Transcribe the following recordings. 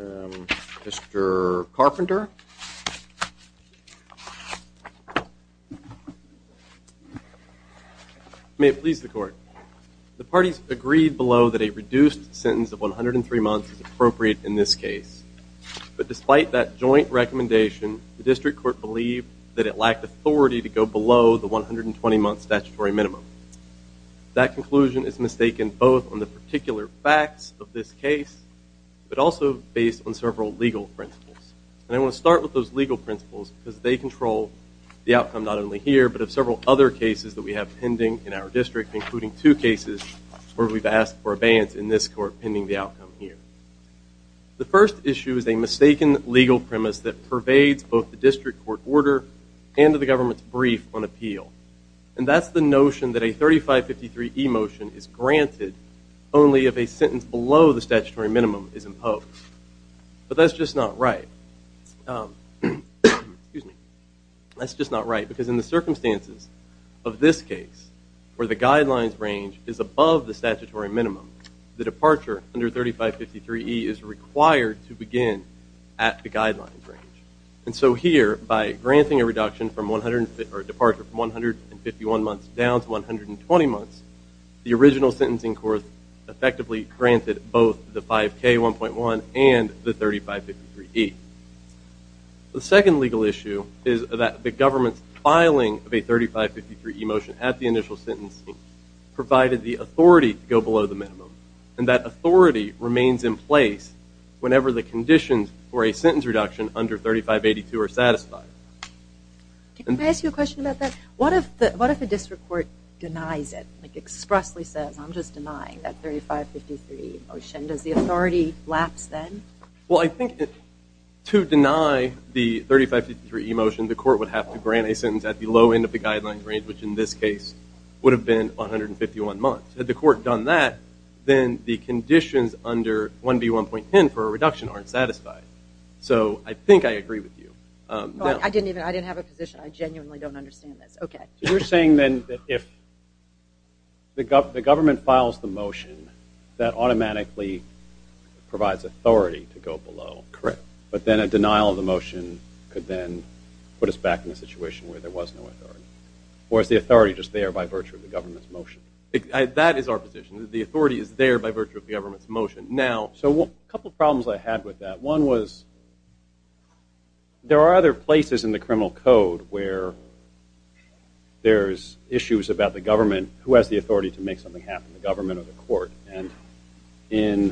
Mr. Carpenter may it please the court the parties agreed below that a reduced sentence of 103 months is appropriate in this case but despite that joint recommendation the district court believed that it lacked authority to go below the 120 months statutory minimum that conclusion is mistaken both on the principles and I want to start with those legal principles because they control the outcome not only here but of several other cases that we have pending in our district including two cases where we've asked for abeyance in this court pending the outcome here the first issue is a mistaken legal premise that pervades both the district court order and to the government's brief on appeal and that's the notion that a 3553 emotion is granted only if a sentence below the statutory minimum is imposed but that's just not right that's just not right because in the circumstances of this case where the guidelines range is above the statutory minimum the departure under 3553 E is required to begin at the guidelines range and so here by granting a reduction from 100 or departure from 151 months down to 120 months the original sentencing course effectively granted both the 5k 1.1 and the 3553 E. The second legal issue is that the government's filing of a 3553 emotion at the initial sentencing provided the authority to go below the minimum and that authority remains in place whenever the conditions for a sentence reduction under 3582 are satisfied. Can I ask you a question about that? What if the district court denies it like expressly says I'm just denying that 3553 motion does the authority lapse then? Well I think to deny the 3553 emotion the court would have to grant a sentence at the low end of the guidelines range which in this case would have been 151 months. Had the court done that then the conditions under 1B 1.10 for a reduction aren't satisfied so I think I agree with you. I didn't even I didn't have a position I genuinely don't understand this okay You're saying then that if the government files the motion that automatically provides authority to go below? Correct. But then a denial of the motion could then put us back in a situation where there was no authority or is the authority just there by virtue of the government's motion? That is our position the authority is there by virtue of the government's motion. Now so what a couple problems I had with that one was there are other places in the criminal code where there's issues about the government who has the authority to make something happen the government or the court and in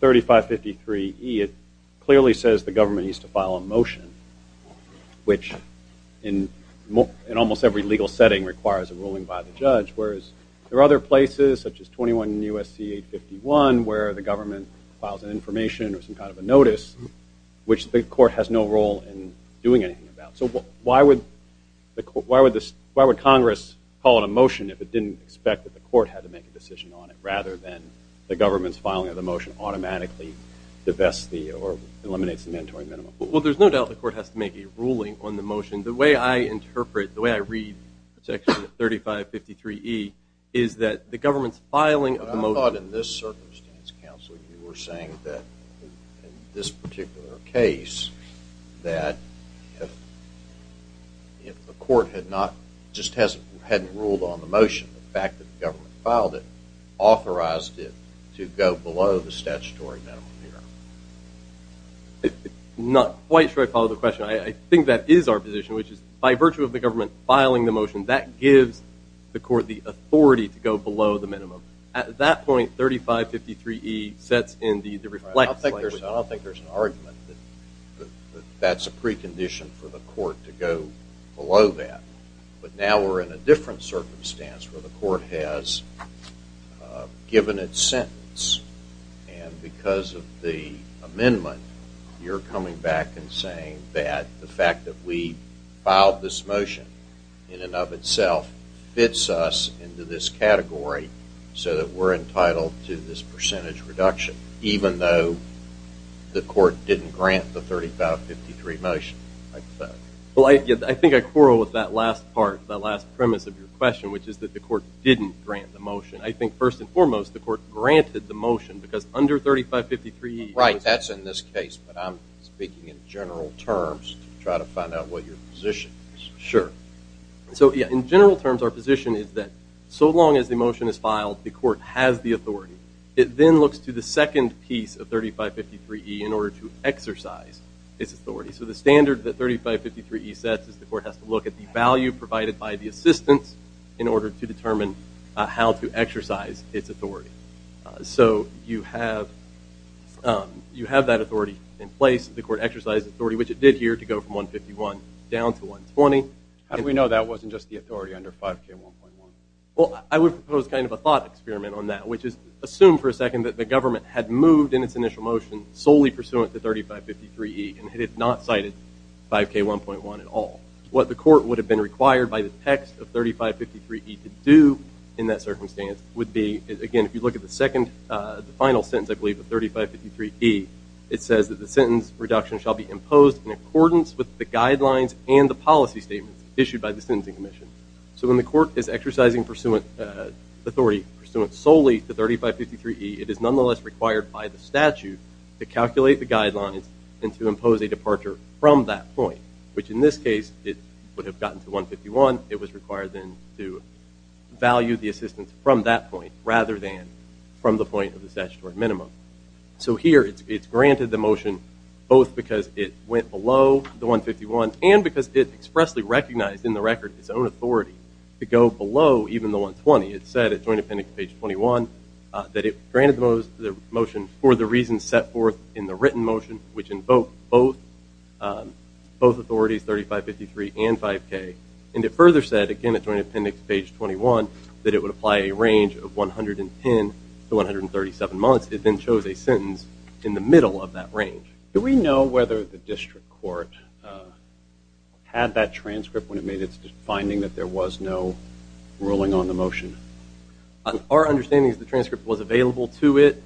3553 it clearly says the government needs to file a motion which in almost every legal setting requires a ruling by the judge whereas there are other places such as 21 in USC 851 where the government files an information or some of a notice which the court has no role in doing anything about so why would the court why would this why would Congress call it a motion if it didn't expect that the court had to make a decision on it rather than the government's filing of the motion automatically the best the or eliminates the mandatory minimum? Well there's no doubt the court has to make a ruling on the motion the way I interpret the way I read section 3553e is that the government's filing of the saying that this particular case that if the court had not just hasn't hadn't ruled on the motion the fact that the government filed it authorized it to go below the statutory minimum. Not quite sure I follow the question I think that is our position which is by virtue of the government filing the motion that gives the court the authority to go below the minimum at that point 3553e sets in the reflect. I don't think there's an argument that that's a precondition for the court to go below that but now we're in a different circumstance where the court has given its sentence and because of the amendment you're coming back and saying that the fact that we filed this motion in and of itself fits us into this category so that we're entitled to this percentage reduction even though the court didn't grant the 3553 motion like that. Well I think I quarrel with that last part that last premise of your question which is that the court didn't grant the motion I think first and foremost the court granted the motion because under 3553e. Right that's in this case but I'm speaking in general terms try to find out what your position is. Sure so yeah in general terms our position is that so long as the motion is filed the court has the authority it then looks to the second piece of 3553e in order to exercise its authority so the standard that 3553e sets is the court has to look at the value provided by the assistance in order to determine how to exercise its authority so you have you have that authority in place the court exercises authority which it did here to go from 151 down to 120. How do we know that wasn't just the authority under 5k 1.1? Well I would propose kind of a thought experiment on that which is assume for a second that the government had moved in its initial motion solely pursuant to 3553e and had not cited 5k 1.1 at all. What the court would have been required by the text of 3553e to do in that circumstance would be again if you look at the second the final sentence I believe of 3553e it says that the sentence reduction shall be imposed in accordance with the guidelines and the exercising pursuant authority pursuant solely to 3553e it is nonetheless required by the statute to calculate the guidelines and to impose a departure from that point which in this case it would have gotten to 151 it was required then to value the assistance from that point rather than from the point of the statutory minimum so here it's granted the motion both because it went below the 151 and because it expressly recognized in the record its own authority to go below even the 120 it said at Joint Appendix page 21 that it granted the motion for the reason set forth in the written motion which invoked both both authorities 3553 and 5k and it further said again at Joint Appendix page 21 that it would apply a range of 110 to 137 months it then chose a sentence in the middle of that range. Do we know whether the district court had that transcript when it made its finding that there was no ruling on the motion? Our understanding is the transcript was available to it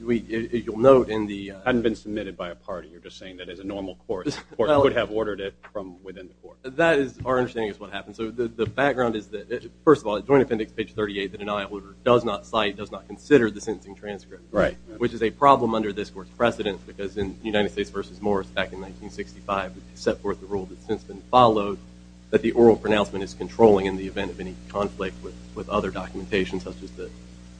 we you'll note in the hadn't been submitted by a party you're just saying that as a normal court I would have ordered it from within the court. That is our understanding is what happened so the background is that first of all Joint Appendix page 38 the denial does not cite does not consider the sentencing transcript right which is a problem under this court's precedent because in United States versus Morris back in 1965 set forth the rule that's since been followed that the oral pronouncement is controlling in the event of any conflict with with other documentation such as the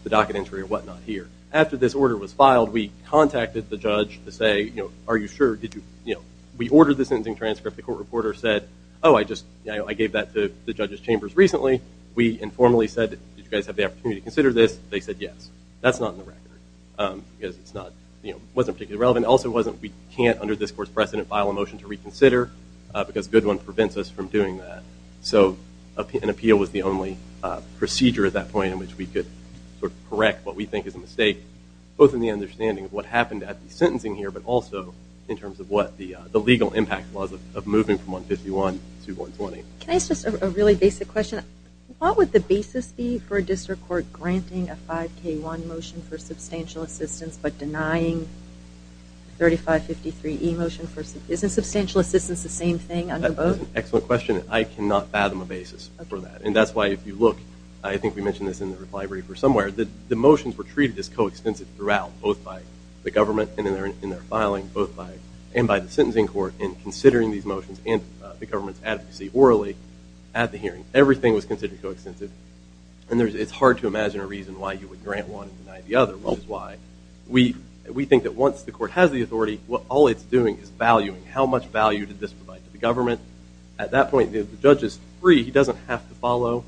the docket entry or whatnot here after this order was filed we contacted the judge to say you know are you sure did you you know we ordered the sentencing transcript the court reporter said oh I just you know I gave that to the judges chambers recently we informally said did you guys have the opportunity to consider this they said yes that's not in the record because it's not you know wasn't particularly relevant also wasn't we can't under this course precedent file a motion to reconsider because good one prevents us from doing that so an appeal was the only procedure at that point in which we could correct what we think is a mistake both in the understanding of what happened at the sentencing here but also in terms of what the the legal impact was of moving from 151 to 120 it's just a really basic question what would the basis be for a district court granting a 5k one motion for substantial assistance but denying 3553 emotion first isn't substantial assistance the same thing under both excellent question I cannot fathom a basis for that and that's why if you look I think we mentioned this in the library for somewhere that the motions were treated as co-extensive throughout both by the government and in their in their filing both by and by the sentencing court in considering these motions and the government's advocacy orally at the hearing everything was in a reason why you would grant one the other one why we we think that once the court has the authority what all it's doing is valuing how much value did this provide to the government at that point the judge is free he doesn't have to follow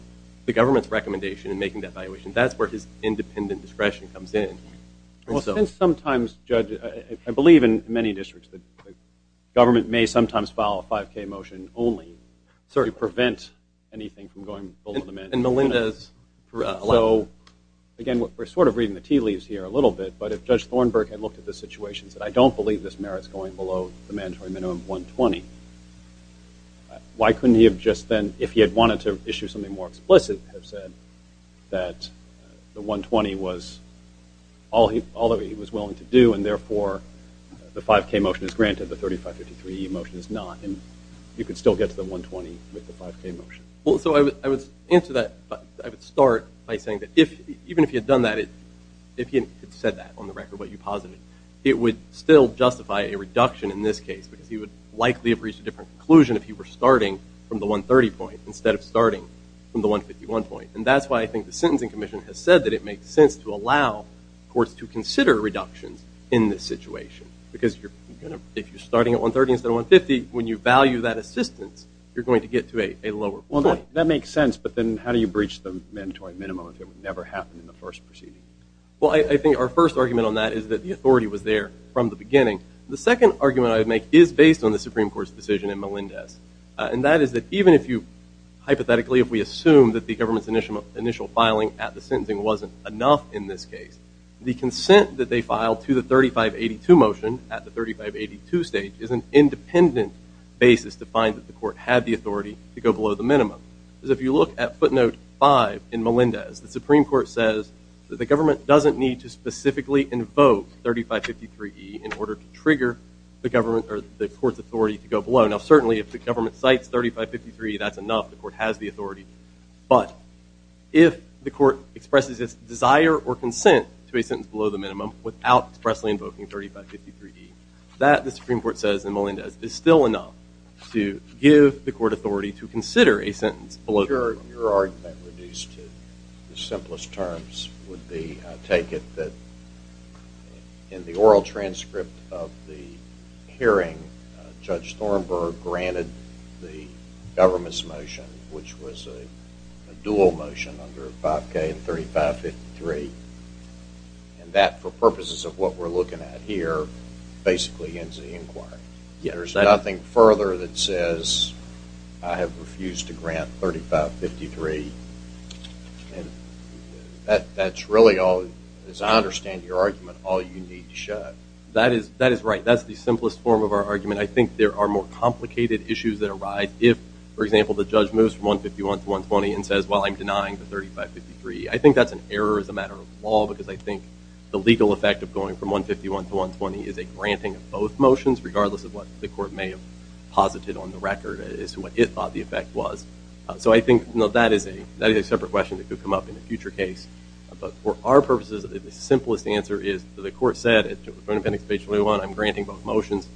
the government's recommendation and making that valuation that's where his independent discretion comes in well since sometimes judge I believe in many districts the government may sometimes file a 5k motion only sorry prevent anything from going and Melinda's so again what we're sort of reading the tea leaves here a little bit but if judge Thornburg had looked at the situations that I don't believe this merits going below the mandatory minimum 120 why couldn't he have just then if he had wanted to issue something more explicit have said that the 120 was all he although he was willing to do and therefore the 5k motion is granted the 3533 motion is not and you could still get to the 120 with the 5k motion well so I would answer that I would start by saying that if even if you had done that it if you said that on the record what you posited it would still justify a reduction in this case because he would likely have reached a different conclusion if you were starting from the 130 point instead of starting from the 151 point and that's why I think the Sentencing Commission has said that it makes sense to allow courts to consider reductions in this situation because you're gonna if you're starting at 130 instead of 150 when you value that assistance you're going to get to a a lower well that makes sense but then how do you breach the mandatory minimum if it would never happen in the first proceeding well I think our first argument on that is that the authority was there from the beginning the second argument I would make is based on the Supreme Court's decision in Melinda's and that is that even if you hypothetically if we assume that the government's initial initial filing at the sentencing wasn't enough in this case the consent that they filed to the 3582 motion at the 3582 stage is an independent basis to find that the court had the authority to go below the minimum because if you look at footnote 5 in Melinda's the Supreme Court says that the government doesn't need to specifically invoke 3553e in order to trigger the government or the court's authority to go below now certainly if the government cites 3553 that's enough the court has the authority but if the court expresses its desire or consent to a sentence below the minimum without expressly invoking 3553 that the Supreme Court says in Melinda's is still enough to give the court authority to consider a sentence below your argument reduced to the simplest terms would be take it that in the oral transcript of the hearing judge Thornburg granted the government's motion which was a dual motion under Bob K and 3553 and that for purposes of what we're looking at here basically ends the inquiry yeah there's nothing further that says I have refused to grant 3553 and that's really all as I understand your argument all you need to show that is that is right that's the simplest form of our argument I think there are more complicated issues that arise if for example the I think that's an error as a matter of law because I think the legal effect of going from 151 to 120 is a granting of both motions regardless of what the court may have posited on the record is what it thought the effect was so I think no that is a that is a separate question that could come up in a future case but for our purposes the simplest answer is the court said it's going to pen expatriate one I'm granting both motions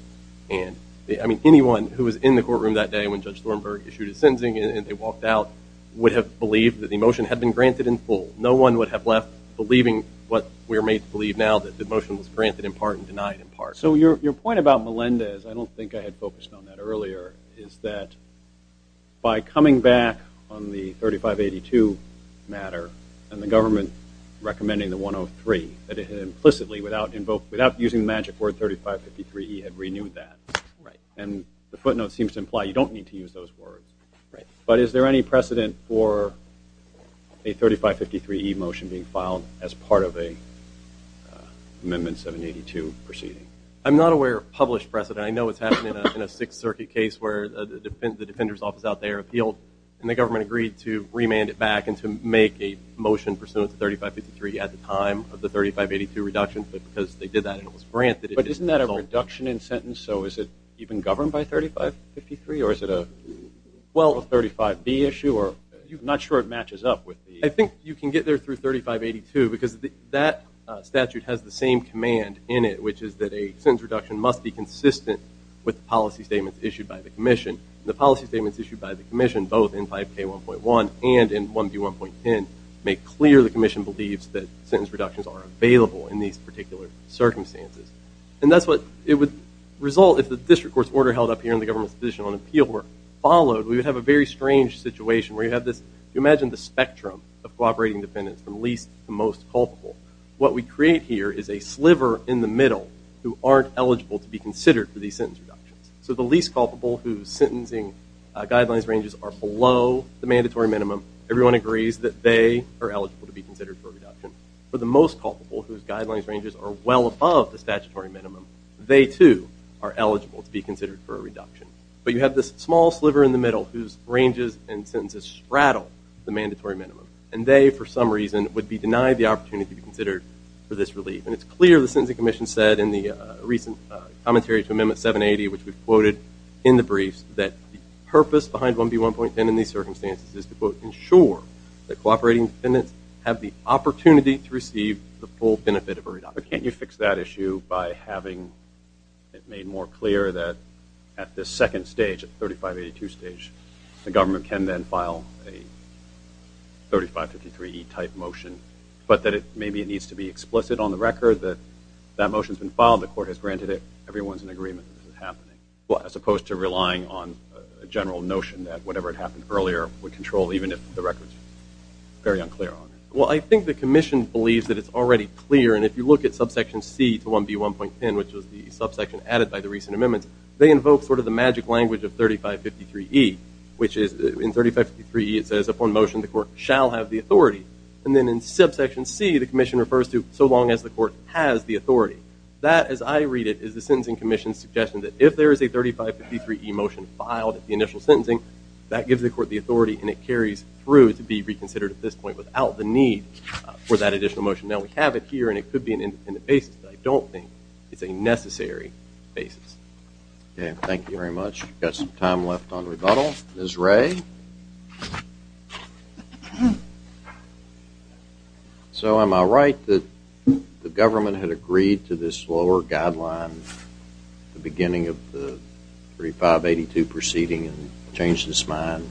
and I mean anyone who was in the courtroom that day when judge Thornburg issued a sentencing and they walked out would have believed that the motion had been granted in full no one would have left believing what we're made to believe now that the motion was granted in part and denied in part so your point about Melinda is I don't think I had focused on that earlier is that by coming back on the 3582 matter and the government recommending the 103 that it had implicitly without invoke without using the magic word 3553 he had renewed that right and the footnote seems to imply you don't need to use those words right but is there any precedent for a 3553 motion being filed as part of a amendment 782 proceeding I'm not aware of published precedent I know it's happening in a Sixth Circuit case where the defend the defender's office out there appealed and the government agreed to remand it back and to make a motion pursuant to 3553 at the time of the 3582 reduction but because they did that it was granted but isn't that a reduction in sentence so is it even governed by 3553 or is it a well 35 B issue or you've not sure it matches up with I think you can get there through 3582 because that statute has the same command in it which is that a sentence reduction must be consistent with the policy statements issued by the Commission the policy statements issued by the Commission both in 5k 1.1 and in 1b 1.10 make clear the Commission believes that sentence reductions are available in these particular circumstances and that's what it would result if the district courts order held up here in the government's position on appeal were followed we would have a very strange situation where you have this you imagine the spectrum of cooperating defendants from least to most culpable what we create here is a sliver in the middle who aren't eligible to be considered for these sentence reductions so the least culpable whose sentencing guidelines ranges are below the mandatory minimum everyone agrees that they are eligible to be considered for a reduction for the most culpable whose guidelines ranges are well above the statutory minimum they too are this small sliver in the middle whose ranges and sentences straddle the mandatory minimum and they for some reason would be denied the opportunity to be considered for this relief and it's clear the Sentencing Commission said in the recent commentary to Amendment 780 which we've quoted in the briefs that the purpose behind 1b 1.10 in these circumstances is to quote ensure that cooperating defendants have the opportunity to receive the full benefit of a reduction. But can't you fix that issue by having it made more clear that at this second stage at 3582 stage the government can then file a 3553 E type motion but that it maybe it needs to be explicit on the record that that motion has been filed the court has granted it everyone's in agreement this is happening well as opposed to relying on a general notion that whatever had happened earlier would control even if the records very unclear on it. Well I think the Commission believes that it's already clear and if you look at subsection C to 1b 1.10 which was the subsection added by the recent amendments they invoke sort of the magic language of 3553 E which is in 3553 E it says upon motion the court shall have the authority and then in subsection C the Commission refers to so long as the court has the authority. That as I read it is the Sentencing Commission's suggestion that if there is a 3553 E motion filed at the initial sentencing that gives the court the authority and it carries through to be reconsidered at this point without the need for that additional motion. Now we have it here and it could be an independent basis. I don't think it's a necessary basis. Okay thank you very much. Got some time left on rebuttal. Ms. Ray. So am I right that the government had agreed to this lower guideline the beginning of the 3582 proceeding and changed its mind?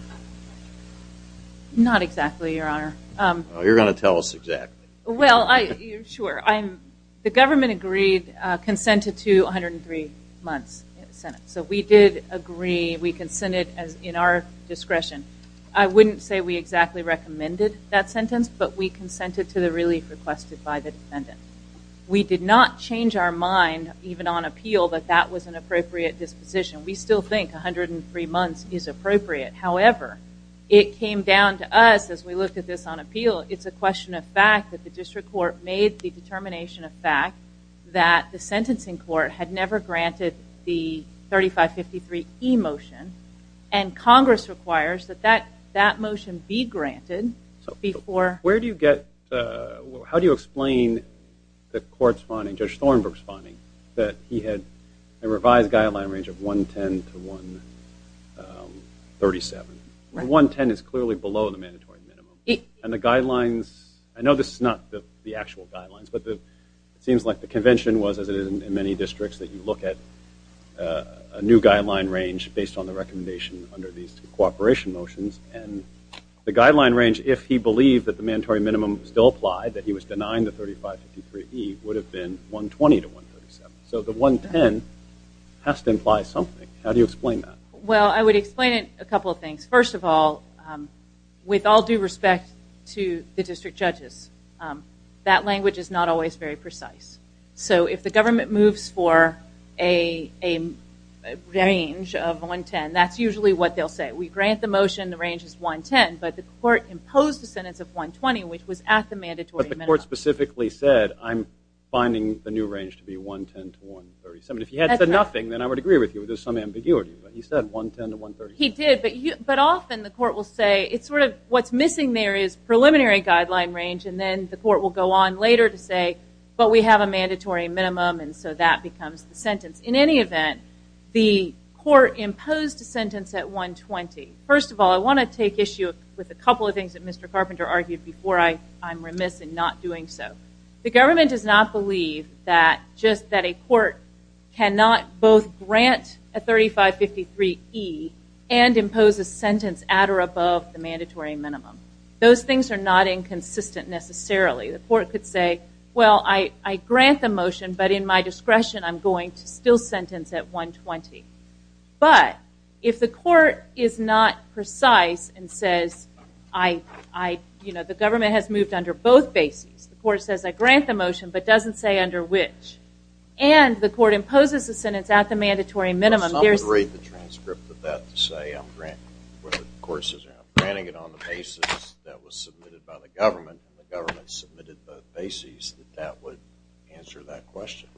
Not exactly your honor. You're gonna tell us exactly. Well I sure I'm the government agreed consented to 103 months in the Senate. So we did agree we consented as in our discretion. I wouldn't say we exactly recommended that sentence but we consented to the relief requested by the defendant. We did not change our mind even on appeal that that was an appropriate disposition. We still think 103 months is appropriate. However it came down to us as we looked at this on appeal it's a question of fact that the district court made the determination of fact that the sentencing court had never granted the 3553 e-motion and Congress requires that that that motion be granted. So before where do you get how do you explain the court's finding, Judge Thornbrook's finding, that he had a revised guideline range of 110 to 137. 110 is clearly below the mandatory minimum and the guidelines I know this is not the actual guidelines but the seems like the convention was as it is in many districts that you look at a new guideline range based on the recommendation under these cooperation motions and the guideline range if he believed that the mandatory minimum still applied that he was denying the 3553 e would have been 120 to 137. So the 110 has to imply something. How do you explain that? Well I would explain it a respect to the district judges. That language is not always very precise. So if the government moves for a range of 110 that's usually what they'll say. We grant the motion the range is 110 but the court imposed a sentence of 120 which was at the mandatory minimum. But the court specifically said I'm finding the new range to be 110 to 137. If he had said nothing then I would agree with you there's some ambiguity but he said 110 to 137. He did but often the court will say it's sort of what's missing there is preliminary guideline range and then the court will go on later to say but we have a mandatory minimum and so that becomes the sentence. In any event the court imposed a sentence at 120. First of all I want to take issue with a couple of things that Mr. Carpenter argued before I I'm remiss in not doing so. The government does not believe that just that a court cannot both grant a 3553 E and impose a sentence at or above the mandatory minimum. Those things are not inconsistent necessarily. The court could say well I I grant the motion but in my discretion I'm going to still sentence at 120. But if the court is not precise and says I I you know the government has moved under both bases the court says I grant the motion but doesn't say under which. And the court imposes a sentence at the mandatory minimum. Some would rate the transcript of that to say I'm granting it on the basis that was submitted by the government and the government submitted both bases that would answer that question.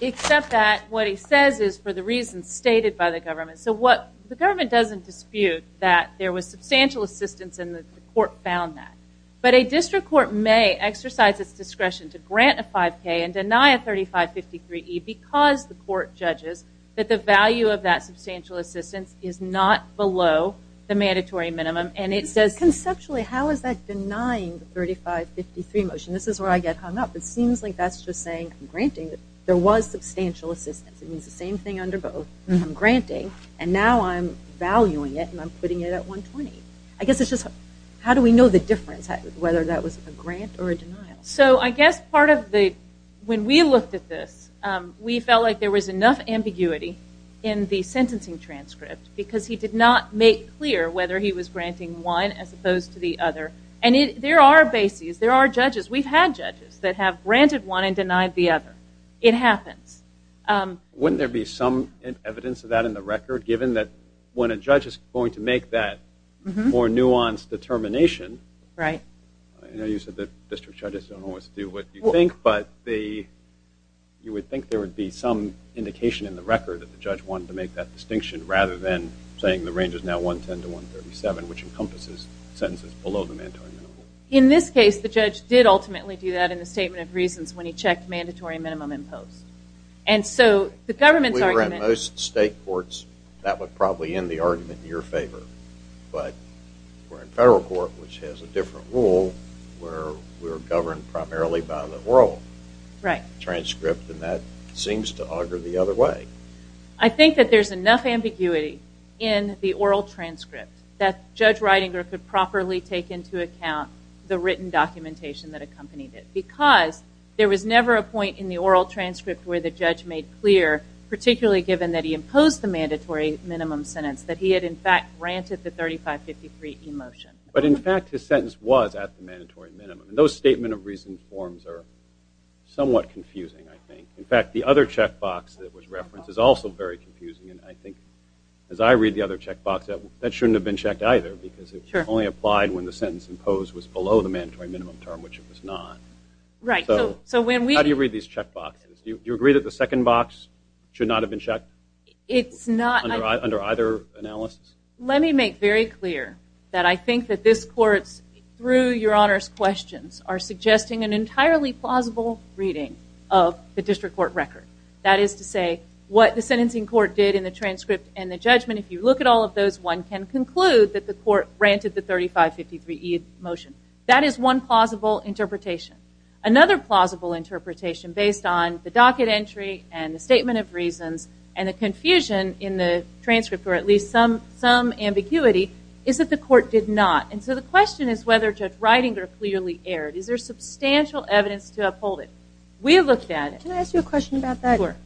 Except that what he says is for the reasons stated by the government. So what the government doesn't dispute that there was substantial assistance in the court found that. But a district court may exercise its discretion to grant a 3553 E because the court judges that the value of that substantial assistance is not below the mandatory minimum. And it says conceptually how is that denying the 3553 motion. This is where I get hung up. It seems like that's just saying I'm granting. There was substantial assistance. It means the same thing under both. I'm granting and now I'm valuing it and I'm putting it at 120. I guess it's just how do we know the difference whether that was a grant or a denial. So I guess part of the when we looked at this we felt like there was enough ambiguity in the sentencing transcript because he did not make clear whether he was granting one as opposed to the other. And there are bases. There are judges. We've had judges that have granted one and denied the other. It happens. Wouldn't there be some evidence of that in the record given that when a judge is going to make that more nuanced determination. Right. I know you said that district judges don't always do what you think but the you would think there would be some indication in the record that the judge wanted to make that distinction rather than saying the range is now 110 to 137 which encompasses sentences below the mandatory minimum. In this case the judge did ultimately do that in the statement of reasons when he checked mandatory minimum in post. And so the government's argument. In most state courts that would probably end the argument in your favor. But we're in federal court which has a different rule where we're governed primarily by the oral. Right. Transcript and that seems to augur the other way. I think that there's enough ambiguity in the oral transcript that Judge Reidinger could properly take into account the written documentation that accompanied it. Because there was never a point in the oral transcript where the judge made clear particularly given that he imposed the mandatory minimum sentence that he had in fact granted the 3553 emotion. But in fact his sentence was at mandatory minimum. And those statement of reason forms are somewhat confusing I think. In fact the other checkbox that was referenced is also very confusing and I think as I read the other checkbox that shouldn't have been checked either because it only applied when the sentence imposed was below the mandatory minimum term which it was not. Right. So when we. How do you read these checkboxes? Do you agree that the second box should not have been checked? It's not. Under either analysis? Let me make very clear that I think that this courts through your honors questions are suggesting an entirely plausible reading of the district court record. That is to say what the sentencing court did in the transcript and the judgment. If you look at all of those one can conclude that the court granted the 3553 motion. That is one plausible interpretation. Another plausible interpretation based on the docket entry and the statement of reasons and the confusion in the transcript or at least some ambiguity is that the court did not. And so the question is whether Judge Reidinger clearly erred. Is there substantial evidence to uphold it? We looked at it. Can I ask you a question about that? Sure.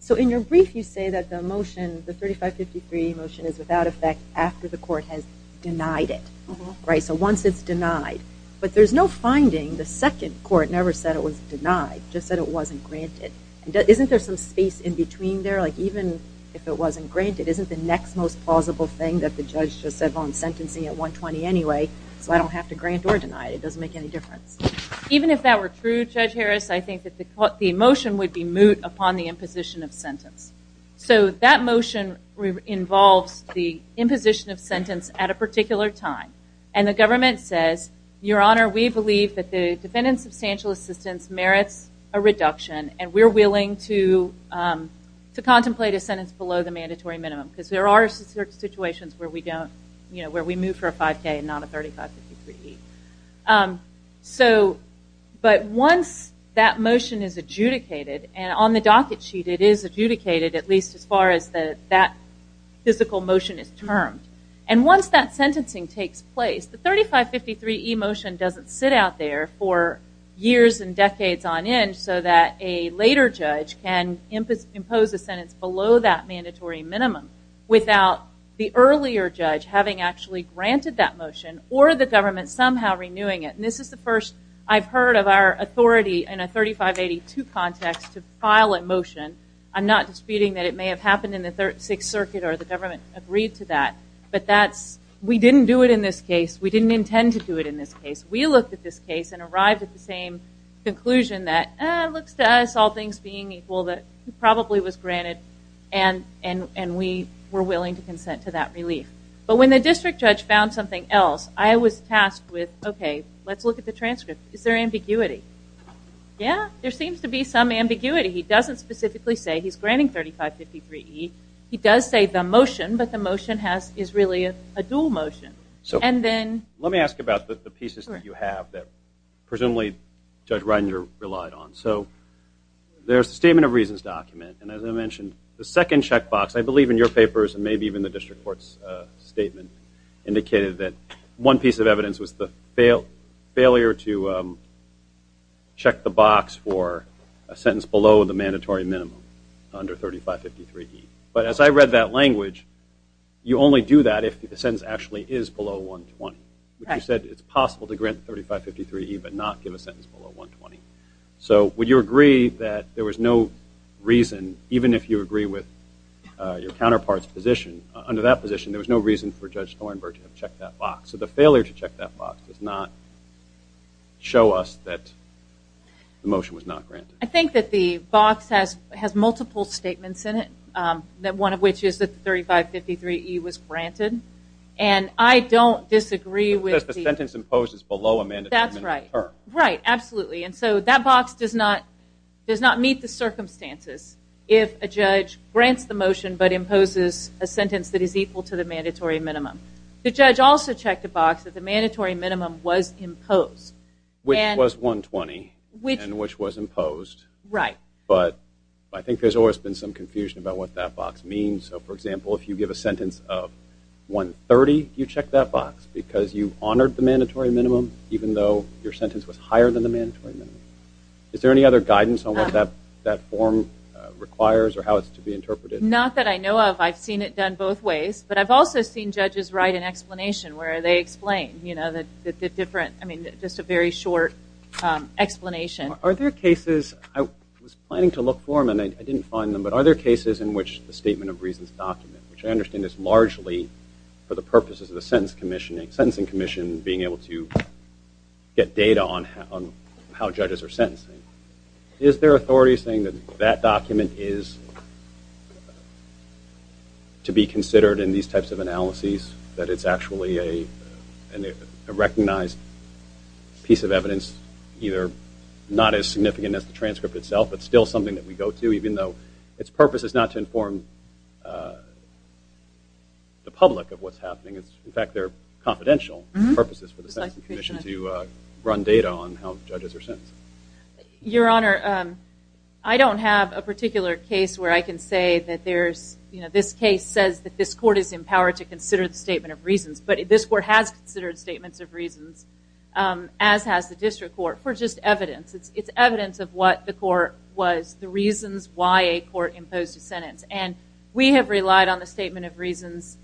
So in your brief you say that the motion the 3553 motion is without effect after the court has denied it. Right. So once it's denied but there's no finding the second court never said it was denied just said it wasn't granted. Isn't there some space in between there like even if it wasn't granted isn't the next most plausible thing that the judge just said I'm sentencing at 120 anyway so I don't have to grant or deny it. It doesn't make any difference. Even if that were true Judge Harris I think that the motion would be moot upon the imposition of sentence. So that motion involves the imposition of sentence at a particular time and the government says your honor we believe that the defendant substantial assistance merits a reduction and we're willing to to contemplate a sentence below the where we move for a 5k and not a 3553E. So but once that motion is adjudicated and on the docket sheet it is adjudicated at least as far as the that physical motion is termed and once that sentencing takes place the 3553E motion doesn't sit out there for years and decades on end so that a later judge can impose a sentence below that mandatory minimum without the earlier judge having actually granted that motion or the government somehow renewing it. This is the first I've heard of our authority in a 3582 context to file a motion. I'm not disputing that it may have happened in the 6th Circuit or the government agreed to that but that's we didn't do it in this case we didn't intend to do it in this case. We looked at this case and arrived at the same conclusion that looks to us all things being equal that probably was but when the district judge found something else I was tasked with okay let's look at the transcript is there ambiguity yeah there seems to be some ambiguity he doesn't specifically say he's granting 3553E he does say the motion but the motion has is really a dual motion so and then let me ask about the pieces that you have that presumably Judge Reinder relied on so there's a statement of reasons document and as I mentioned the second checkbox I believe in your papers and maybe even the district courts statement indicated that one piece of evidence was the fail failure to check the box for a sentence below the mandatory minimum under 3553E but as I read that language you only do that if the sentence actually is below 120. You said it's possible to grant 3553E but not give a sentence below 120 so would you agree that there was no reason even if you agree with your counterpart's position under that position there was no reason for Judge Thornburg to have checked that box so the failure to check that box does not show us that the motion was not granted I think that the box has has multiple statements in it that one of which is that 3553E was granted and I don't disagree with the sentence imposed is below a mandatory minimum. That's right right absolutely and so that box does not does not meet the circumstances if a judge grants the motion but imposes a sentence that is equal to the mandatory minimum the judge also checked a box that the mandatory minimum was imposed which was 120 which was imposed right but I think there's always been some confusion about what that box means so for example if you give a sentence of 130 you check that box because you honored the mandatory minimum even though your sentence was higher than the mandatory minimum. Is there any other guidance on what that that form requires or how it's to be interpreted? Not that I know of I've seen it done both ways but I've also seen judges write an explanation where they explain you know that the different I mean just a very short explanation. Are there cases I was planning to look for them and I didn't find them but are there cases in which the statement of reasons document which I understand is largely for the purposes of the sentence commissioning sentencing commission being able to get data on how judges are sentencing. Is there authority saying that that document is to be considered in these types of analyses that it's actually a recognized piece of evidence either not as significant as the transcript itself but still something that we go to even though its purpose is not to inform the public of what's happening it's in fact they're confidential purposes for the commission to run data on how judges are sentencing. Your Honor I don't have a particular case where I can say that there's you know this case says that this court is empowered to consider the statement of reasons but this court has considered statements of reasons as has the district court for just evidence it's evidence of what the court was the reasons why a court imposed a sentence and we have relied on the statement of reasons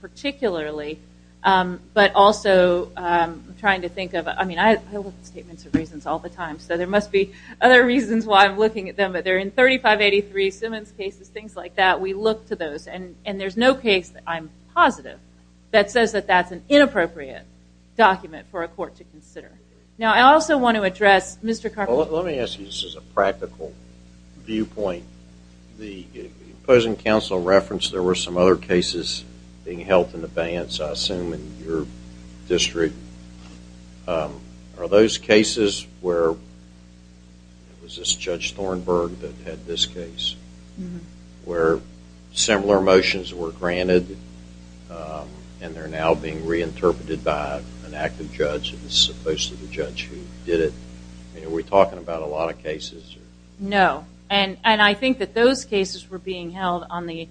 particularly but also trying to think of I mean I look at statements of reasons all the time so there must be other reasons why I'm looking at them but they're in 3583 Simmons cases things like that we look to those and and there's no case that I'm positive that says that that's an inappropriate document for a court to consider. Now I also want to address Mr. Carpenter. Let me ask you this is a practical viewpoint the opposing counsel referenced there were some other cases being held in advance I assume in your district are those cases where it was this Judge Thornburg that had this case where similar motions were granted and they're now being reinterpreted by an active judge as opposed to the judge who did it are we talking about a lot of cases? No and and I think that those cases were being held on the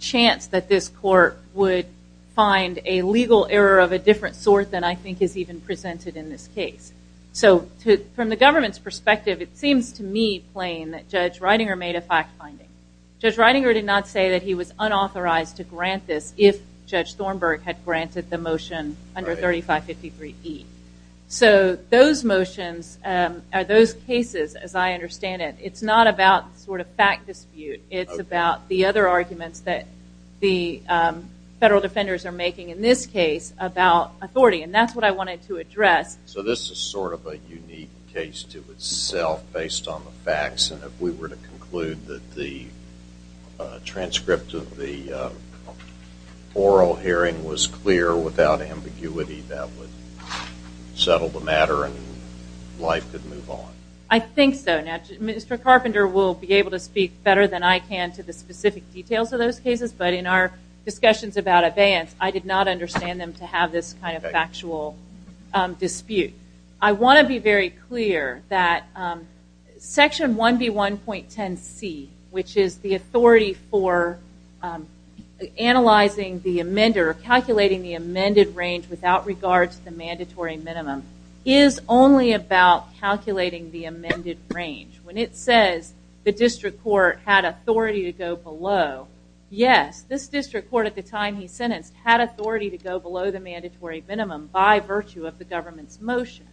chance that this court would find a legal error of a different sort than I think is even presented in this case so from the government's perspective it seems to me plain that Judge Ridinger made a fact finding. Judge Ridinger did not say that he was unauthorized to grant this if Judge Thornburg had granted the motion under 3553 E so those motions are those about the other arguments that the federal defenders are making in this case about authority and that's what I wanted to address. So this is sort of a unique case to itself based on the facts and if we were to conclude that the transcript of the oral hearing was clear without ambiguity that would settle the matter and life could move on. I think so now Mr. Carpenter will be able to speak better than I can to the specific details of those cases but in our discussions about abeyance I did not understand them to have this kind of factual dispute. I want to be very clear that section 1B 1.10 C which is the authority for analyzing the amender calculating the amended range without regard to the mandatory minimum is only about calculating the amended range when it says the district court had authority to go below yes this district court at the time he sentenced had authority to go below the mandatory minimum by virtue of the government's motion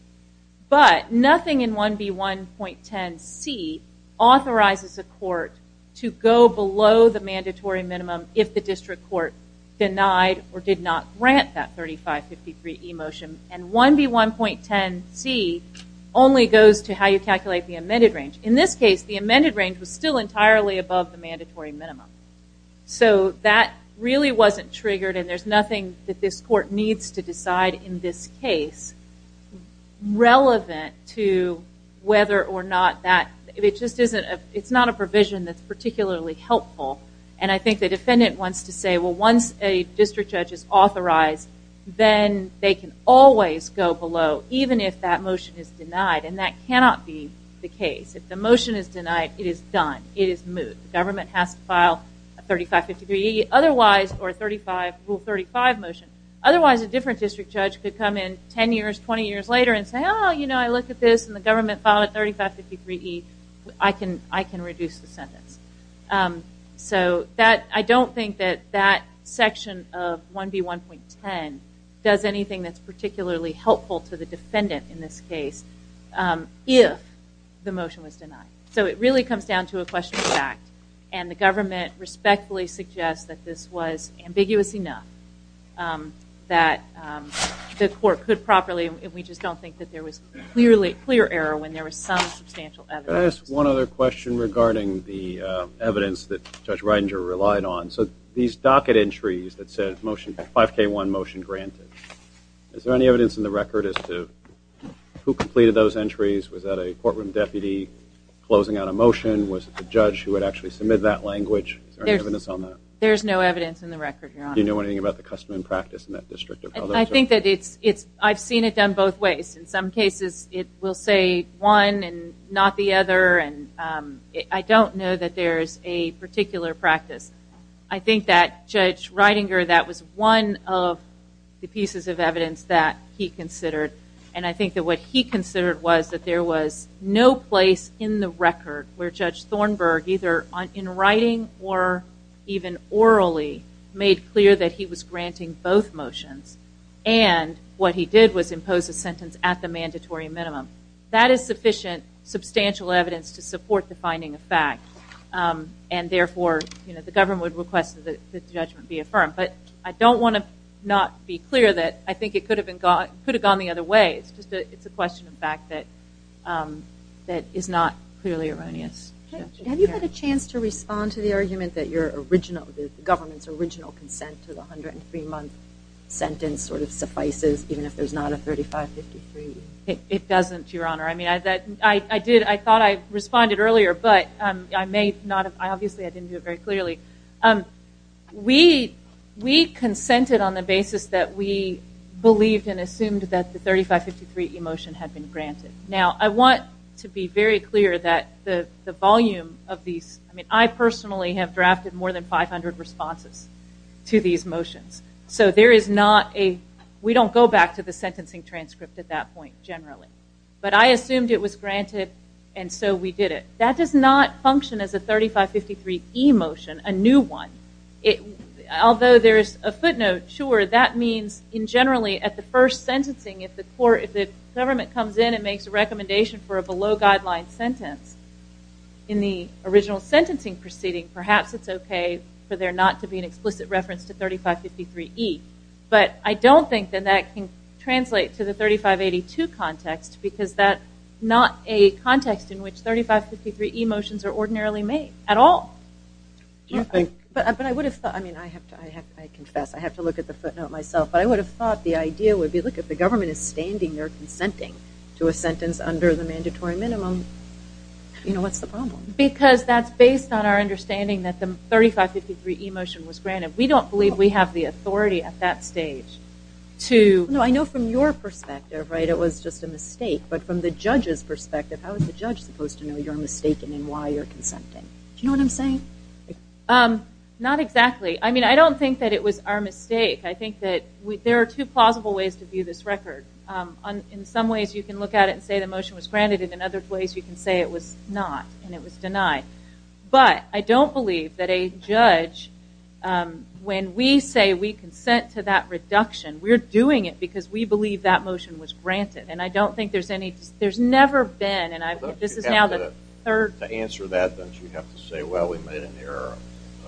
but nothing in 1B 1.10 C authorizes a court to go below the mandatory minimum if the district court denied or did not grant that 3553 E motion and 1B 1.10 C only goes to how you calculate the amended range. In this case the amended range was still entirely above the mandatory minimum. So that really wasn't triggered and there's nothing that this court needs to decide in this case relevant to whether or not that it just isn't it's not a provision that's particularly helpful and I think the defendant wants to say well once a district judge is authorized then they can always go below even if that motion is denied and that cannot be the case. If the motion is denied it is done. It is moved. The government has to file a 3553 E otherwise or rule 35 motion otherwise a different district judge could come in 10 years 20 years later and say I look at this and the government filed a 3553 E I can reduce the sentence. So I don't think that that section of 1B 1.10 does anything that's particularly helpful to the defendant in this case if the motion was denied. So it really comes down to a question of fact and the government respectfully suggests that this was ambiguous enough that the court could properly and we just don't think that there was clearly clear error when there was some substantial evidence. Can I ask one other question regarding the evidence that Judge Reidinger relied on. So these docket entries that said motion 5k1 motion granted. Is there any evidence in the record as to who completed those entries? Was that a courtroom deputy closing out a motion? Was it the judge who would actually submit that language? There's no evidence on that. There's no evidence in the record. Do you know anything about the custom and practice in that district? I think that it's it's I've seen it done both ways. In some cases it will say one and not the other and I don't know that there's a particular practice. I think that Judge Reidinger did have a lot of evidence that he considered and I think that what he considered was that there was no place in the record where Judge Thornburg either on in writing or even orally made clear that he was granting both motions and what he did was impose a sentence at the mandatory minimum. That is sufficient substantial evidence to support the finding of fact and therefore you know the government would request that the judgment be affirmed. But I don't want to not be clear that I think it could have been gone could have gone the other way. It's just it's a question of fact that that is not clearly erroneous. Have you had a chance to respond to the argument that your original the government's original consent to the 103 month sentence sort of suffices even if there's not a 3553? It doesn't your honor. I mean I that I did I thought I responded earlier but I may not have I obviously I didn't do it very clearly. We consented on the basis that we believed and assumed that the 3553 e-motion had been granted. Now I want to be very clear that the the volume of these I mean I personally have drafted more than 500 responses to these motions so there is not a we don't go back to the sentencing transcript at that point generally but I assumed it was granted and so we did it. That does not function as a 3553 e-motion a new one. It although there's a footnote sure that means in generally at the first sentencing if the court if the government comes in and makes a recommendation for a below guideline sentence in the original sentencing proceeding perhaps it's okay for there not to be an explicit reference to 3553 e but I don't think that that can translate to the 3582 context because that not a context in which 3553 e-motions are ordinarily made at all but I would have thought I mean I have to I have to look at the footnote myself but I would have thought the idea would be look at the government is standing there consenting to a sentence under the mandatory minimum you know what's the problem? Because that's based on our understanding that the 3553 e-motion was granted. We don't believe we have the authority at that stage to know I know from your perspective right it was just a mistake but from the judge's perspective how is the judge supposed to know you're mistaken and why you're consenting? Do you know what I'm saying? Not exactly I mean I don't think that it was our mistake I think that we there are two plausible ways to view this record on in some ways you can look at it and say the motion was granted and in other ways you can say it was not and it was denied but I don't believe that a motion was granted and I don't think there's any there's never been and I this is now the third answer that don't you have to say well we made an error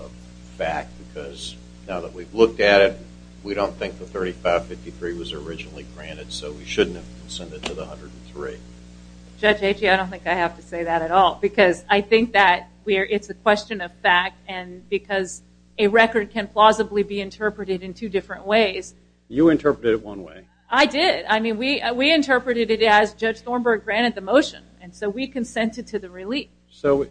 of fact because now that we've looked at it we don't think the 3553 was originally granted so we shouldn't have sent it to the 103. Judge Achey I don't think I have to say that at all because I think that we're it's a question of fact and because a record can plausibly be interpreted in two different ways. You interpreted it one way. I did I mean we we interpreted it as Judge Thornburg granted the motion and so we consented to the relief. So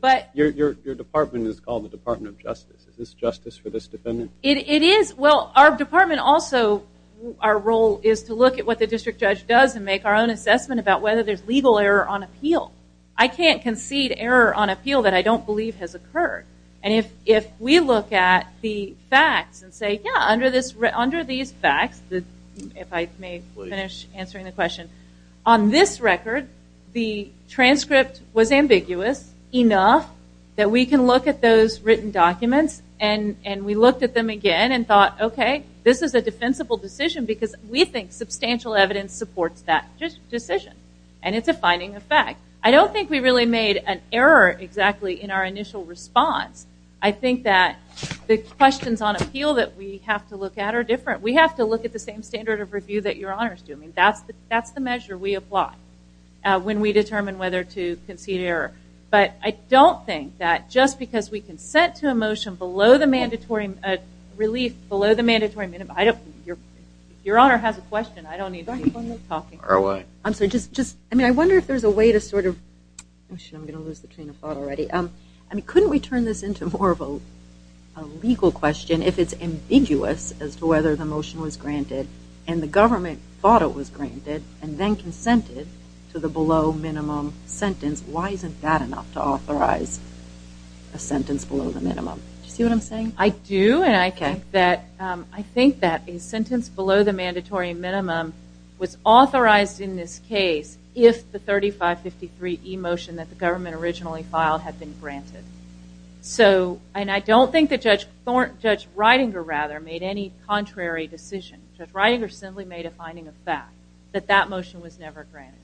but your department is called the Department of Justice is this justice for this defendant? It is well our department also our role is to look at what the district judge does and make our own assessment about whether there's legal error on appeal I can't concede error on appeal that I don't believe has occurred and if if we look at the facts and say yeah under this under these facts that if I may finish answering the question on this record the transcript was ambiguous enough that we can look at those written documents and and we looked at them again and thought okay this is a defensible decision because we think substantial evidence supports that decision and it's a finding of fact. I don't think we really made an error exactly in our initial response. I think that the questions on appeal that we have to look at are different. We have to look at the same standard of review that your honors do. I mean that's the that's the measure we apply when we determine whether to concede error but I don't think that just because we consent to a motion below the mandatory relief below the mandatory minimum I don't your your honor has a question I don't need to keep on talking. I'm sorry just just I wonder if there's a way to sort of I'm gonna lose the train of thought already um I mean couldn't we turn this into more of a legal question if it's ambiguous as to whether the motion was granted and the government thought it was granted and then consented to the below minimum sentence why isn't that enough to authorize a sentence below the minimum? Do you see what I'm saying? I do and I think that I think that a sentence below the mandatory minimum was the 3553 e-motion that the government originally filed had been granted so and I don't think that Judge Thornton, Judge Reidinger rather made any contrary decision. Judge Reidinger simply made a finding of fact that that motion was never granted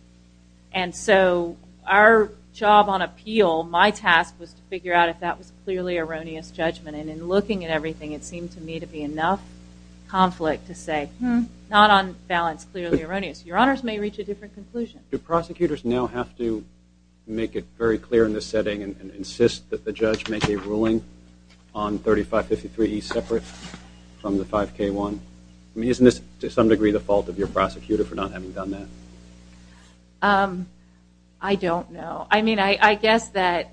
and so our job on appeal my task was to figure out if that was clearly erroneous judgment and in looking at everything it seemed to me to be enough conflict to say hmm not on balance clearly erroneous. Your honors may reach a different conclusion. Do prosecutors now have to make it very clear in this setting and insist that the judge make a ruling on 3553 e separate from the 5k one? I mean isn't this to some degree the fault of your prosecutor for not having done that? I don't know I mean I guess that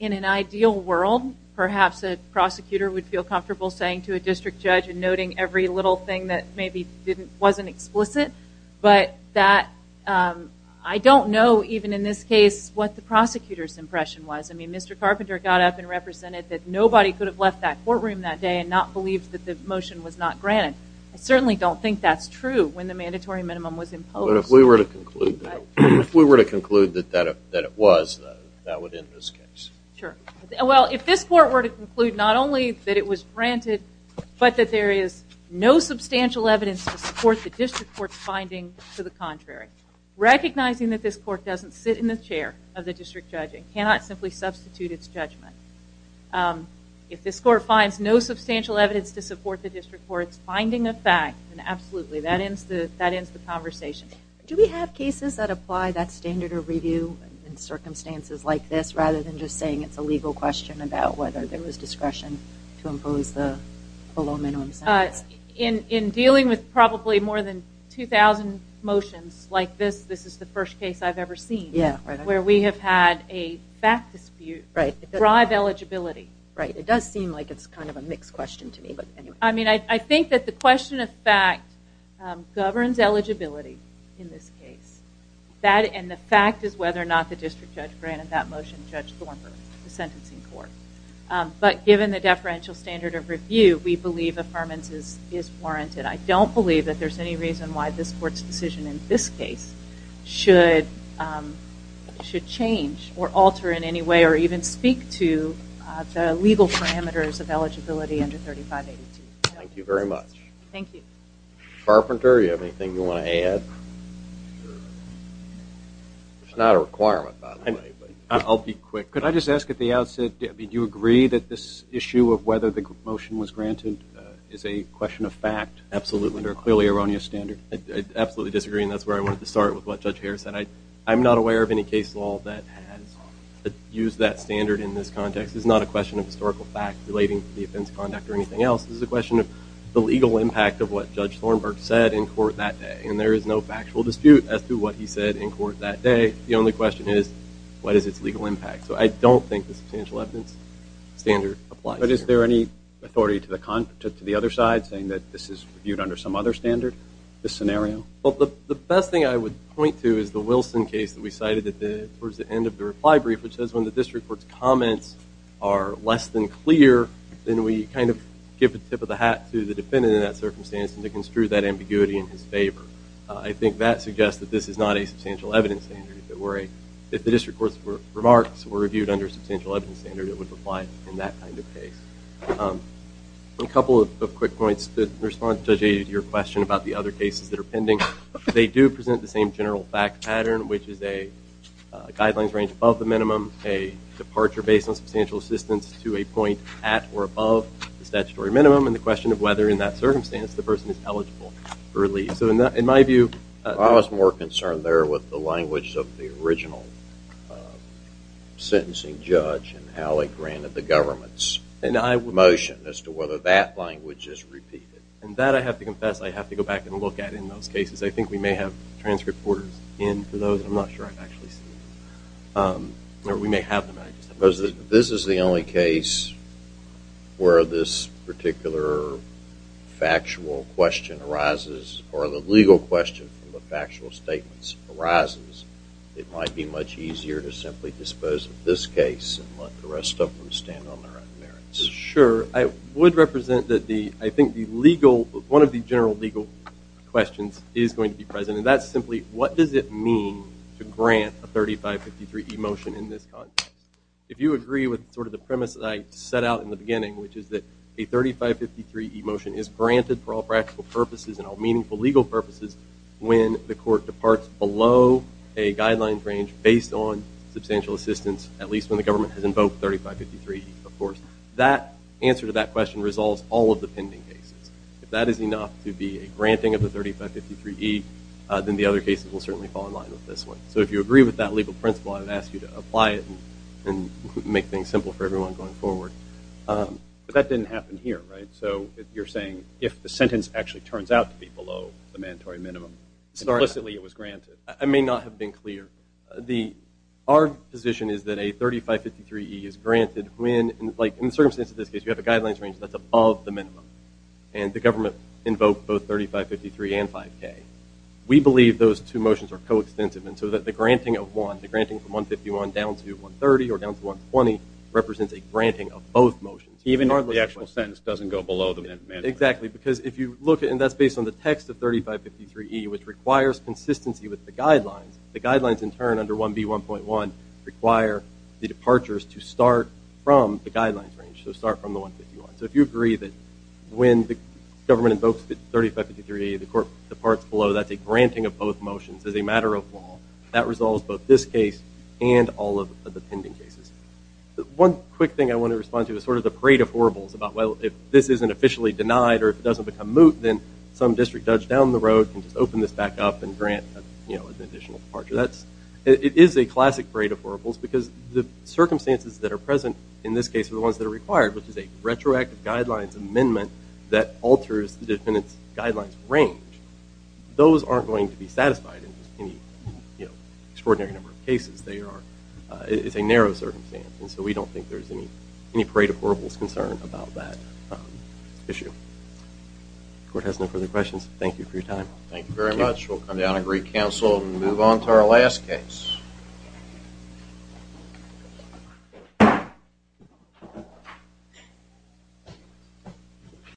in an ideal world perhaps a prosecutor would feel comfortable saying to a district judge and noting every little thing that maybe didn't wasn't explicit but that I don't know even in this case what the prosecutor's impression was. I mean Mr. Carpenter got up and represented that nobody could have left that courtroom that day and not believed that the motion was not granted. I certainly don't think that's true when the mandatory minimum was imposed. But if we were to conclude that if we were to conclude that that it was that would end this case. Sure well if this court were to conclude not only that it was granted but that there is no substantial evidence to support the district court's finding to the contrary. Recognizing that this court doesn't sit in the chair of the district judge it cannot simply substitute its judgment. If this court finds no substantial evidence to support the district courts finding a fact and absolutely that ends the that ends the conversation. Do we have cases that apply that standard of review in circumstances like this rather than just saying it's a discretion to impose the low minimum sentence? In dealing with probably more than 2,000 motions like this this is the first case I've ever seen. Yeah. Where we have had a fact dispute. Right. Drive eligibility. Right. It does seem like it's kind of a mixed question to me but anyway. I mean I think that the question of fact governs eligibility in this case. That and the fact is whether or not the district judge granted that motion, Judge Thornburg, the sentencing court. But given the deferential standard of review we believe affirmances is warranted. I don't believe that there's any reason why this court's decision in this case should should change or alter in any way or even speak to the legal parameters of eligibility under 3582. Thank you very much. Thank you. Carpenter, you have anything you want to add? It's not a requirement. I'll be quick. Could I just ask at the outset did you agree that this issue of whether the motion was granted is a question of fact? Absolutely. Under a clearly erroneous standard. I absolutely disagree and that's where I wanted to start with what Judge Harris said. I I'm not aware of any case law that has used that standard in this context. It's not a question of historical fact relating to the offense conduct or anything else. This is a question of the legal impact of what Judge Thornburg said in court that day and there is no factual dispute as to what he said in court that day. The only question is what is its legal impact? So I don't think the substantial evidence standard applies. But is there any authority to the other side saying that this is viewed under some other standard, this scenario? Well the best thing I would point to is the Wilson case that we cited at the towards the end of the reply brief which says when the district court's comments are less than clear then we kind of give a ambiguity in his favor. I think that suggests that this is not a substantial evidence standard. If the district court's remarks were reviewed under substantial evidence standard it would apply in that kind of case. A couple of quick points that respond to your question about the other cases that are pending. They do present the same general fact pattern which is a guidelines range above the minimum, a departure based on substantial assistance to a point at or above the statutory minimum, and the question of whether in that circumstance the person is eligible for relief. So in my view... I was more concerned there with the language of the original sentencing judge and how they granted the government's motion as to whether that language is repeated. And that I have to confess I have to go back and look at in those cases. I think we may have transcript orders in for those. I'm not sure I've actually seen them. Or we may have them. This is the only case where this particular factual question arises or the legal question from the factual statements arises. It might be much easier to simply dispose of this case and let the rest of them stand on their own merits. Sure. I would represent that the I think the legal one of the general legal questions is going to be present and that's simply what does it mean to grant a 3553E motion in this context. If you agree with sort of the premise that I set out in the beginning which is that a 3553E motion is granted for all practical purposes and all meaningful legal purposes when the court departs below a guidelines range based on substantial assistance at least when the government has invoked 3553E. Of course that answer to that question resolves all of the pending cases. If that is enough to be a granting of the 3553E then the other cases will certainly fall in line with this one. So if you agree with that legal principle I'd ask you to apply it and make things simple for everyone going forward. But that didn't happen here right? So you're saying if the sentence actually turns out to be below the mandatory minimum implicitly it was granted. I may not have been clear. Our position is that a 3553E is granted when like in the circumstance of this case you have a guidelines range that's above the minimum and the government invoked both 3553 and 5k. We believe those two motions are coextensive and so that the granting of one, the granting from 151 down to 130 or down to 120 represents a granting of both motions. Even if the actual sentence doesn't go below the mandatory. Exactly because if you look at and that's based on the text of 3553E which requires consistency with the guidelines. The guidelines in turn under 1b 1.1 require the departures to start from the guidelines range. So start from the 151. So if you agree that when the government invokes 3553 the court departs below that's a granting of both motions as a matter of law. That resolves both this case and all of the pending cases. One quick thing I want to respond to is sort of the parade of horribles about well if this isn't officially denied or it doesn't become moot then some district judge down the road can just open this back up and grant you know an additional departure. That's it is a classic parade of horribles because the circumstances that are present in this case are the ones that are required which is a retroactive guidelines amendment that alters the defendant's guidelines range. Those aren't going to be satisfied in any extraordinary number of cases. It's a narrow circumstance and so we don't think there's any parade of horribles concern about that issue. The court has no further questions. Thank you for your time. Thank you very much. We'll come down and recounsel and move on to our last case. Yeah.